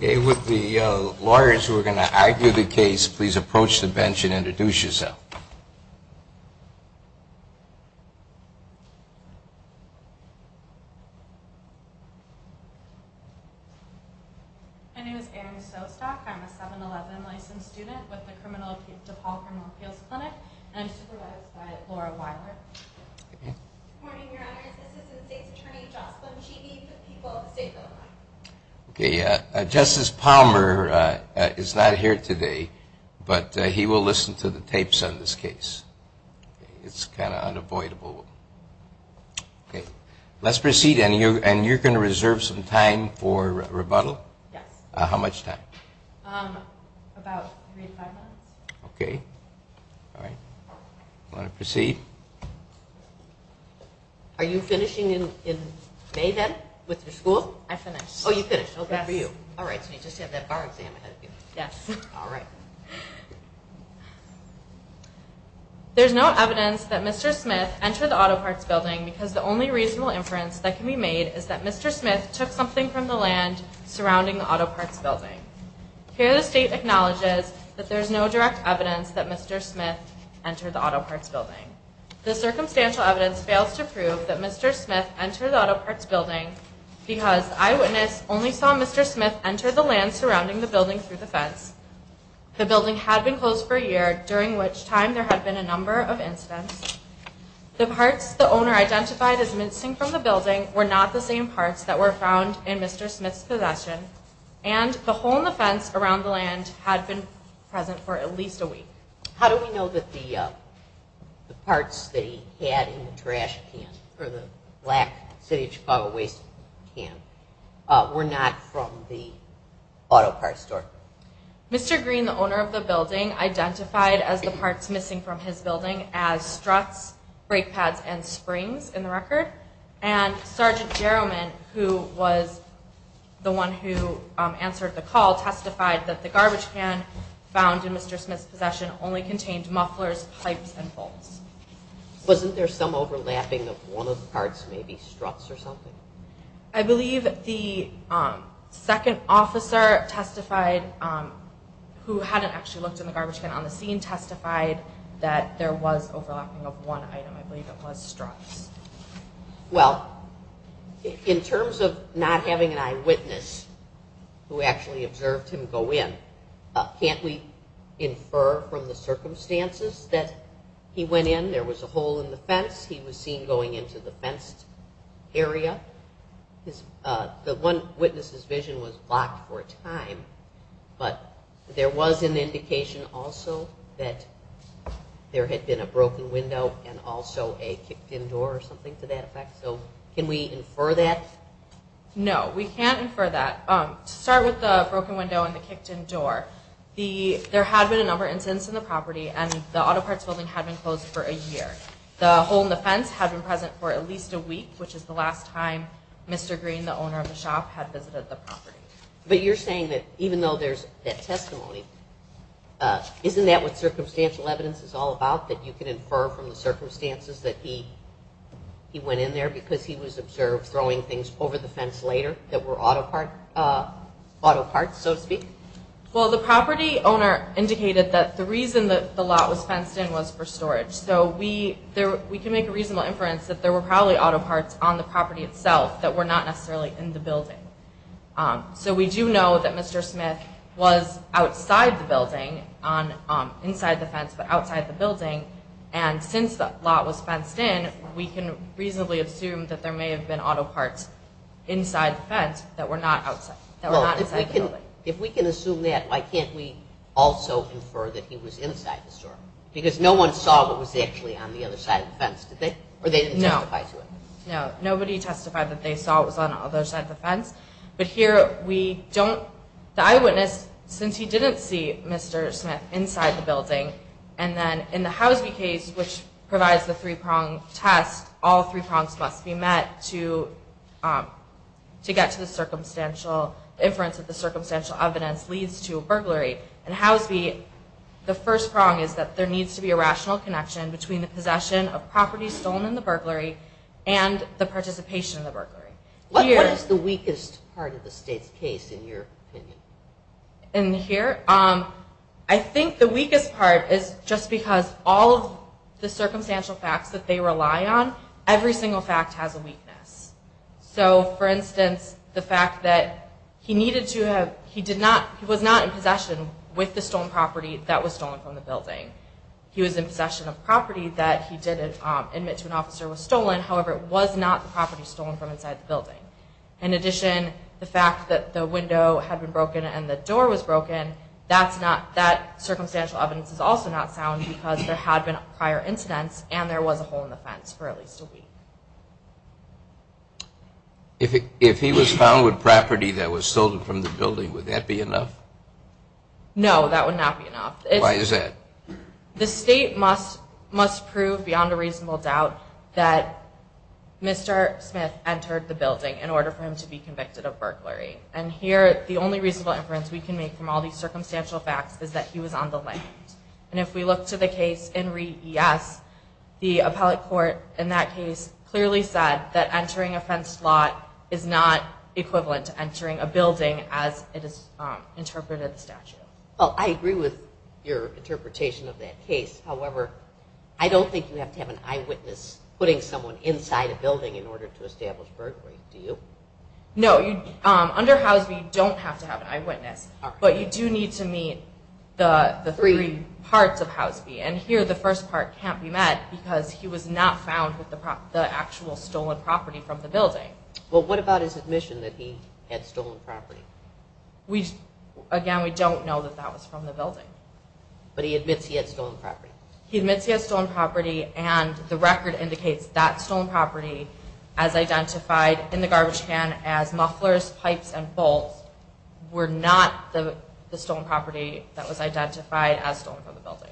With the lawyers who are going to argue the case, please approach the bench and introduce yourself. My name is Erin Sostock. I'm a 7-11 licensed student with the DePaul Criminal Appeals Clinic and I'm supervised by Laura Weiler. Good morning, Your Honor. This is the state's attorney, Jocelyn Cheeby, for the people of the state of Illinois. Okay, Justice Palmer is not here today, but he will listen to the tapes on this case. It's kind of unavoidable. Okay, let's proceed and you're going to reserve some time for rebuttal? Yes. How much time? About three to five minutes. Okay. All right. I'm going to proceed. Are you finishing in May, then, with your school? I finished. Oh, you finished. Good for you. Yes. All right, so you just have that bar exam ahead of you. Yes. All right. There's no evidence that Mr. Smith entered the auto parts building because the only reasonable inference that can be made is that Mr. Smith took something from the land surrounding the auto parts building. Here, the state acknowledges that there's no direct evidence that Mr. Smith entered the auto parts building. The circumstantial evidence fails to prove that Mr. Smith entered the auto parts building because eyewitnesses only saw Mr. Smith enter the land surrounding the building through the fence. The building had been closed for a year, during which time there had been a number of incidents. The parts the owner identified as missing from the building were not the same parts that were found in Mr. Smith's possession, and the hole in the fence around the land had been present for at least a week. How do we know that the parts that he had in the trash can, or the black city of Chicago waste can, were not from the auto parts store? Mr. Green, the owner of the building, identified as the parts missing from his building as struts, brake pads, and springs in the record. And Sgt. Jarrowman, who was the one who answered the call, testified that the garbage can found in Mr. Smith's possession only contained mufflers, pipes, and bolts. Wasn't there some overlapping of one of the parts, maybe struts or something? I believe the second officer testified, who hadn't actually looked in the garbage can on the scene, testified that there was overlapping of one item. I believe it was struts. Well, in terms of not having an eyewitness who actually observed him go in, can't we infer from the circumstances that he went in, there was a hole in the fence, he was seen going into the fenced area. The one witness's vision was blocked for a time, but there was an indication also that there had been a broken window and also a kicked-in door or something to that effect, so can we infer that? No, we can't infer that. To start with the broken window and the kicked-in door, there had been a number of incidents on the property and the auto parts building had been closed for a year. The hole in the fence had been present for at least a week, which is the last time Mr. Green, the owner of the shop, had visited the property. But you're saying that even though there's that testimony, isn't that what circumstantial evidence is all about, that you can infer from the circumstances that he went in there because he was observed throwing things over the fence later that were auto parts, so to speak? Well, the property owner indicated that the reason that the lot was fenced in was for storage, so we can make a reasonable inference that there were probably auto parts on the property itself that were not necessarily in the building. So we do know that Mr. Smith was outside the building, inside the fence but outside the building, and since the lot was fenced in, we can reasonably assume that there may have been auto parts inside the fence that were not outside the building. If we can assume that, why can't we also infer that he was inside the store? Because no one saw what was actually on the other side of the fence, did they? No. Or they didn't testify to it? No. Nobody testified that they saw what was on the other side of the fence. But here, we don't, the eyewitness, since he didn't see Mr. Smith inside the building, and then in the Housby case, which provides the three-prong test, all three prongs must be met to get to the circumstantial inference that the circumstantial evidence leads to a burglary. In Housby, the first prong is that there needs to be a rational connection between the possession of property stolen in the burglary and the participation in the burglary. What is the weakest part of the state's case, in your opinion? In here? I think the weakest part is just because all of the circumstantial facts that they rely on, every single fact has a weakness. So, for instance, the fact that he needed to have, he did not, he was not in possession with the stolen property that was stolen from the building. He was in possession of property that he did admit to an officer was stolen, however, it was not the property stolen from inside the building. In addition, the fact that the window had been broken and the door was broken, that's not, that circumstantial evidence is also not sound because there had been prior incidents and there was a hole in the fence for at least a week. If he was found with property that was stolen from the building, would that be enough? No, that would not be enough. Why is that? The state must prove beyond a reasonable doubt that Mr. Smith entered the building in order for him to be convicted of burglary. And here, the only reasonable inference we can make from all these circumstantial facts is that he was on the land. And if we look to the case in REES, the appellate court in that case clearly said that entering a fenced lot is not equivalent to entering a building as it is interpreted in the statute. Well, I agree with your interpretation of that case, however, I don't think you have to have an eyewitness putting someone inside a building in order to establish burglary, do you? No, under Housby, you don't have to have an eyewitness, but you do need to meet the three parts of Housby. And here, the first part can't be met because he was not found with the actual stolen property from the building. Well, what about his admission that he had stolen property? Again, we don't know that that was from the building. But he admits he had stolen property. He admits he had stolen property, and the record indicates that stolen property as identified in the garbage can as mufflers, pipes, and bolts were not the stolen property that was identified as stolen from the building.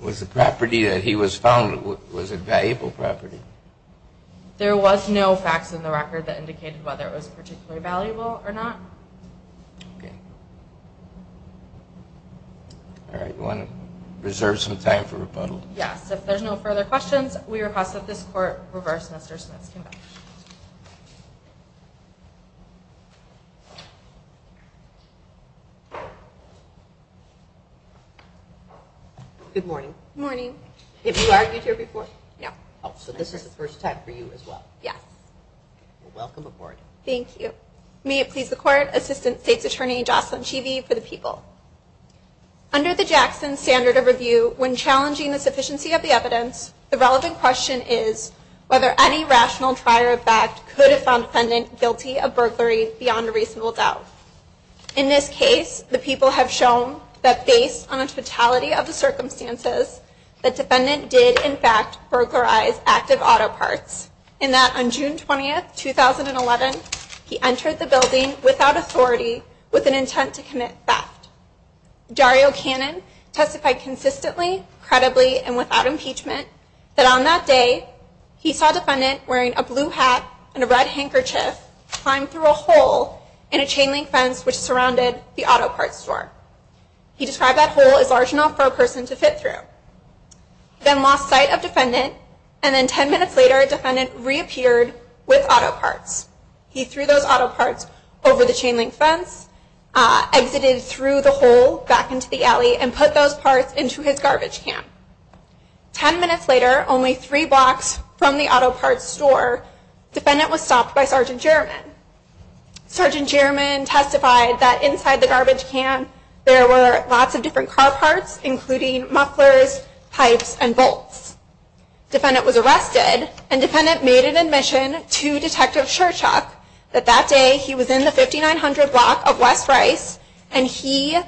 Was the property that he was found with a valuable property? There was no facts in the record that indicated whether it was particularly valuable or not. Okay. All right, you want to reserve some time for rebuttal? Yes, if there's no further questions, we request that this Court reverse Mr. Smith's conviction. Good morning. Good morning. Have you argued here before? No. Oh, so this is the first time for you as well. Yes. Welcome aboard. Thank you. May it please the Court, Assistant State's Attorney Jocelyn Chevey for the people. Under the Jackson Standard of Review, when challenging the sufficiency of the evidence, the relevant question is whether any rational trial or fact could have found the defendant guilty of burglary beyond a reasonable doubt. In this case, the people have shown that based on the totality of the circumstances, the defendant did, in fact, burglarize active auto parts, and that on June 20, 2011, he entered the building without authority with an intent to commit theft. Dario Cannon testified consistently, credibly, and without impeachment that on that day, he saw a defendant wearing a blue hat and a red handkerchief climb through a hole in a chain-link fence which surrounded the auto parts store. He described that hole as large enough for a person to fit through. He then lost sight of the defendant, and then 10 minutes later, the defendant reappeared with auto parts. He threw those auto parts over the chain-link fence, exited through the hole back into the alley, and put those parts into his garbage can. Ten minutes later, only three blocks from the auto parts store, the defendant was stopped by Sgt. Jermyn. Sgt. Jermyn testified that inside the garbage can, there were lots of different car parts, including mufflers, pipes, and bolts. The defendant was arrested, and the defendant made an admission to Detective Shurchuk that that day, he was in the 5900 block of West Rice, and he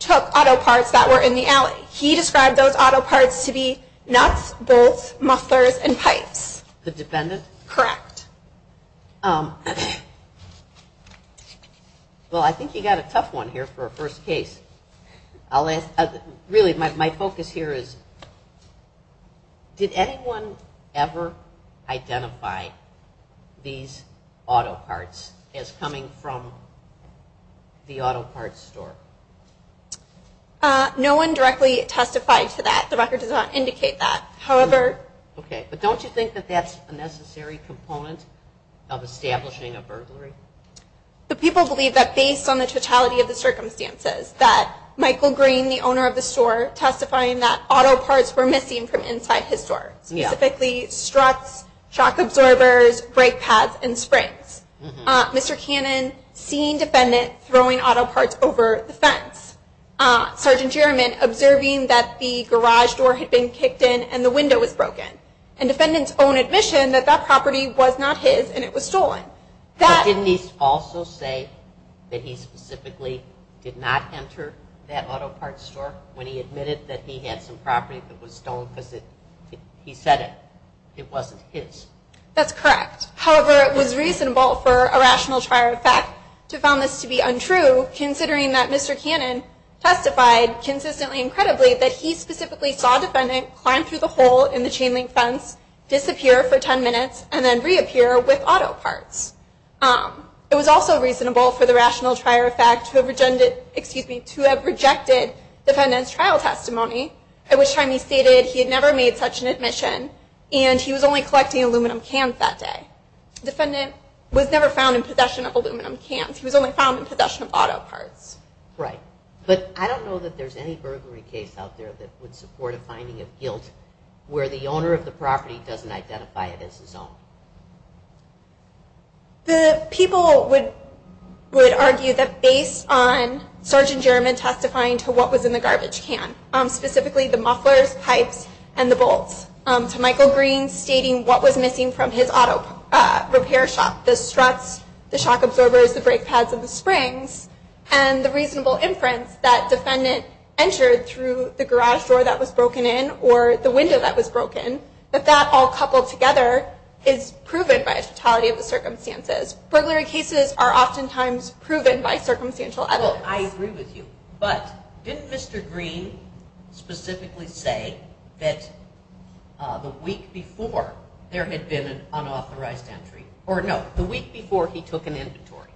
took auto parts that were in the alley. He described those auto parts to be nuts, bolts, mufflers, and pipes. The defendant? Correct. Well, I think you've got a tough one here for a first case. Really, my focus here is, did anyone ever identify these auto parts as coming from the auto parts store? No one directly testified to that. The record does not indicate that. Okay, but don't you think that that's a necessary component of establishing a burglary? But people believe that based on the totality of the circumstances, that Michael Green, the owner of the store, testifying that auto parts were missing from inside his store. Specifically, struts, shock absorbers, brake pads, and springs. Mr. Cannon, seeing defendant throwing auto parts over the fence. Sergeant Jaramin, observing that the garage door had been kicked in and the window was broken. And defendant's own admission that that property was not his and it was stolen. But didn't he also say that he specifically did not enter that auto parts store when he admitted that he had some property that was stolen because he said it wasn't his? That's correct. However, it was reasonable for a rational trial fact to found this to be untrue, considering that Mr. Cannon testified consistently and credibly that he specifically saw defendant climb through the hole in the chain link fence, disappear for 10 minutes, and then reappear with auto parts. It was also reasonable for the rational trial fact to have rejected defendant's trial testimony, at which time he stated he had never made such an admission. And he was only collecting aluminum cans that day. Defendant was never found in possession of aluminum cans. He was only found in possession of auto parts. Right. But I don't know that there's any burglary case out there that would support a finding of guilt where the owner of the property doesn't identify it as his own. The people would argue that based on Sgt. German testifying to what was in the garbage can, specifically the mufflers, pipes, and the bolts, to Michael Green stating what was missing from his auto repair shop, the struts, the shock absorbers, the brake pads, and the springs, and the reasonable inference that defendant entered through the garage door that was broken in or the window that was broken, that that all coupled together is proven by a totality of the circumstances. Burglary cases are oftentimes proven by circumstantial evidence. Well, I agree with you. But didn't Mr. Green specifically say that the week before there had been an unauthorized entry, or no, the week before he took an inventory.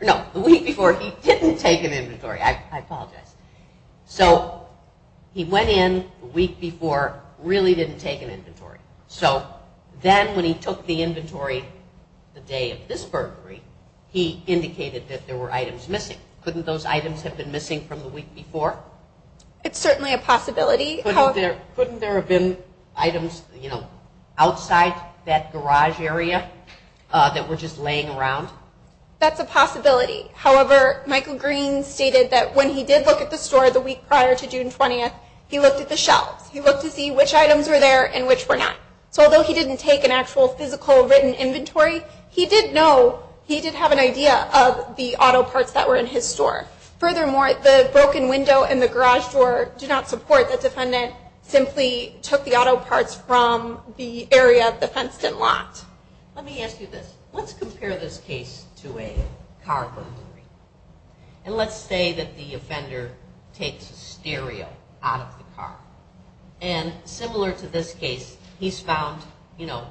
No, the week before he didn't take an inventory. I apologize. So he went in the week before, really didn't take an inventory. So then when he took the inventory the day of this burglary, he indicated that there were items missing. Couldn't those items have been missing from the week before? It's certainly a possibility. Couldn't there have been items, you know, outside that garage area that were just laying around? That's a possibility. However, Michael Green stated that when he did look at the store the week prior to June 20th, he looked at the shelves. He looked to see which items were there and which were not. So although he didn't take an actual physical written inventory, he did know, he did have an idea of the auto parts that were in his store. Furthermore, the broken window and the garage door do not support that the defendant simply took the auto parts from the area the fence didn't lock. Let me ask you this. Let's compare this case to a car burglary. And let's say that the offender takes a stereo out of the car. And similar to this case, he's found, you know,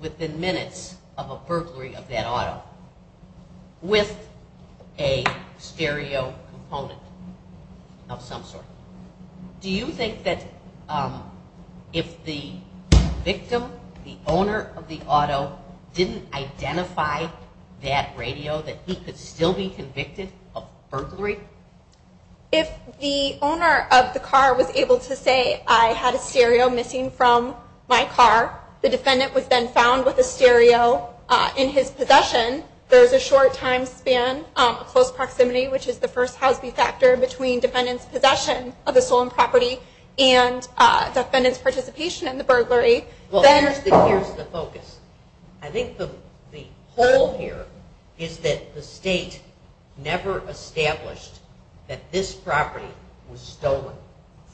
within minutes of a burglary of that auto with a stereo component of some sort. Do you think that if the victim, the owner of the auto, didn't identify that radio, that he could still be convicted of burglary? If the owner of the car was able to say, I had a stereo missing from my car, the defendant was then found with a stereo in his possession, there's a short time span, close proximity, which is the first Houseby factor between defendant's possession of the stolen property and defendant's participation in the burglary. Well, here's the focus. I think the whole here is that the state never established that this property was stolen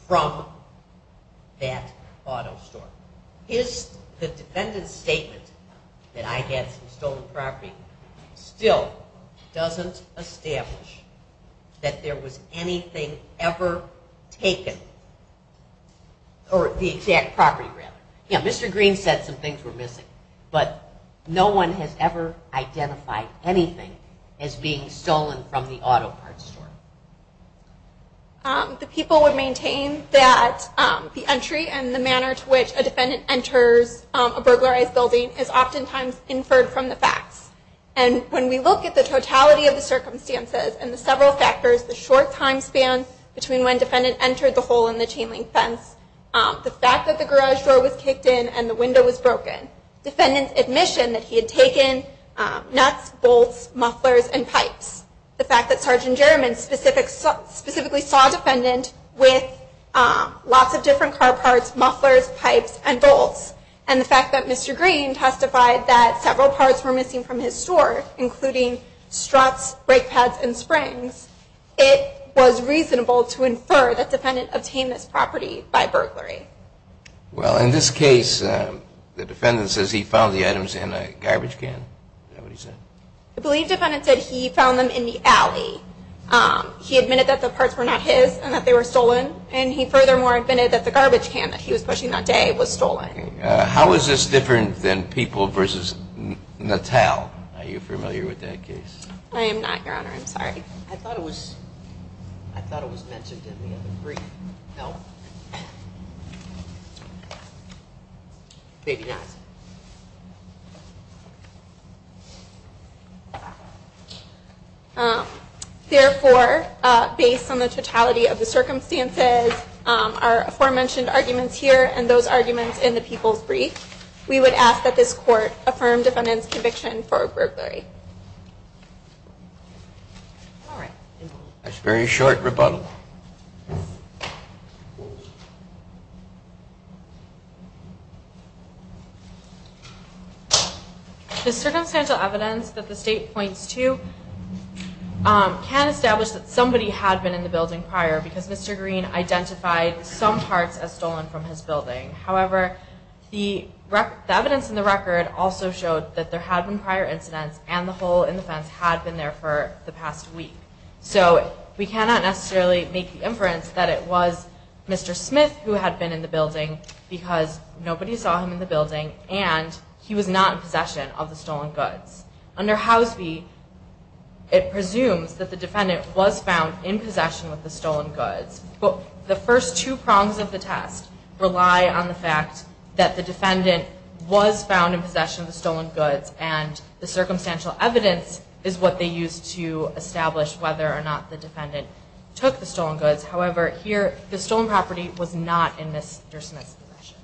from that auto store. The defendant's statement that I had some stolen property still doesn't establish that there was anything ever taken, or the exact property rather. Yeah, Mr. Green said some things were missing, but no one has ever identified anything as being stolen from the auto parts store. The people would maintain that the entry and the manner to which a defendant enters a burglarized building is oftentimes inferred from the facts. And when we look at the totality of the circumstances and the several factors, the short time span between when defendant entered the hole in the chain link fence, the fact that the garage door was kicked in and the window was broken, defendant's admission that he had taken nuts, bolts, mufflers, and pipes, the fact that Sergeant Jaramond specifically saw defendant with lots of different car parts, mufflers, pipes, and bolts, and the fact that Mr. Green testified that several parts were missing from his store, including struts, brake pads, and springs, it was reasonable to infer that defendant obtained this property by burglary. Well, in this case, the defendant says he found the items in a garbage can. Is that what he said? I believe defendant said he found them in the alley. He admitted that the parts were not his and that they were stolen. And he furthermore admitted that the garbage can that he was pushing that day was stolen. How is this different than People v. Natal? Are you familiar with that case? I am not, Your Honor. I'm sorry. I thought it was mentioned in the other brief. No? Maybe not. Therefore, based on the totality of the circumstances, our aforementioned arguments here, and those arguments in the People's Brief, we would ask that this court affirm defendant's conviction for burglary. All right. That's a very short rebuttal. The circumstantial evidence that the State points to can establish that somebody had been in the building prior because Mr. Green identified some parts as stolen from his building. However, the evidence in the record also showed that there had been prior incidents and the hole in the fence had been there for the past week. So we cannot necessarily make the inference that it was Mr. Smith who had been in the building because nobody saw him in the building and he was not in possession of the stolen goods. Under House v., it presumes that the defendant was found in possession of the stolen goods. But the first two prongs of the test rely on the fact that the defendant was found in possession of the stolen goods and the circumstantial evidence is what they used to establish whether or not the defendant took the stolen goods. However, here the stolen property was not in Mr. Smith's possession.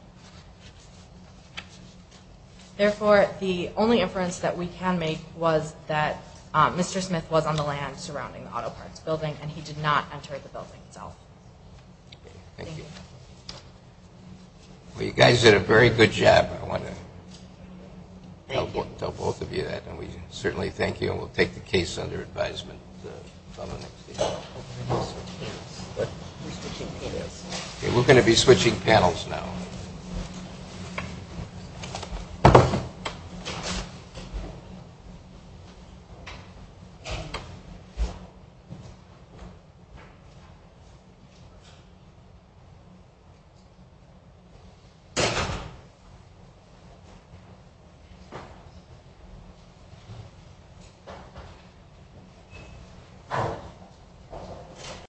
Therefore, the only inference that we can make was that Mr. Smith was on the land surrounding the auto parts building and he did not enter the building itself. Thank you. Well, you guys did a very good job. I want to tell both of you that. And we certainly thank you and we'll take the case under advisement. We're going to be switching panels now. Thank you.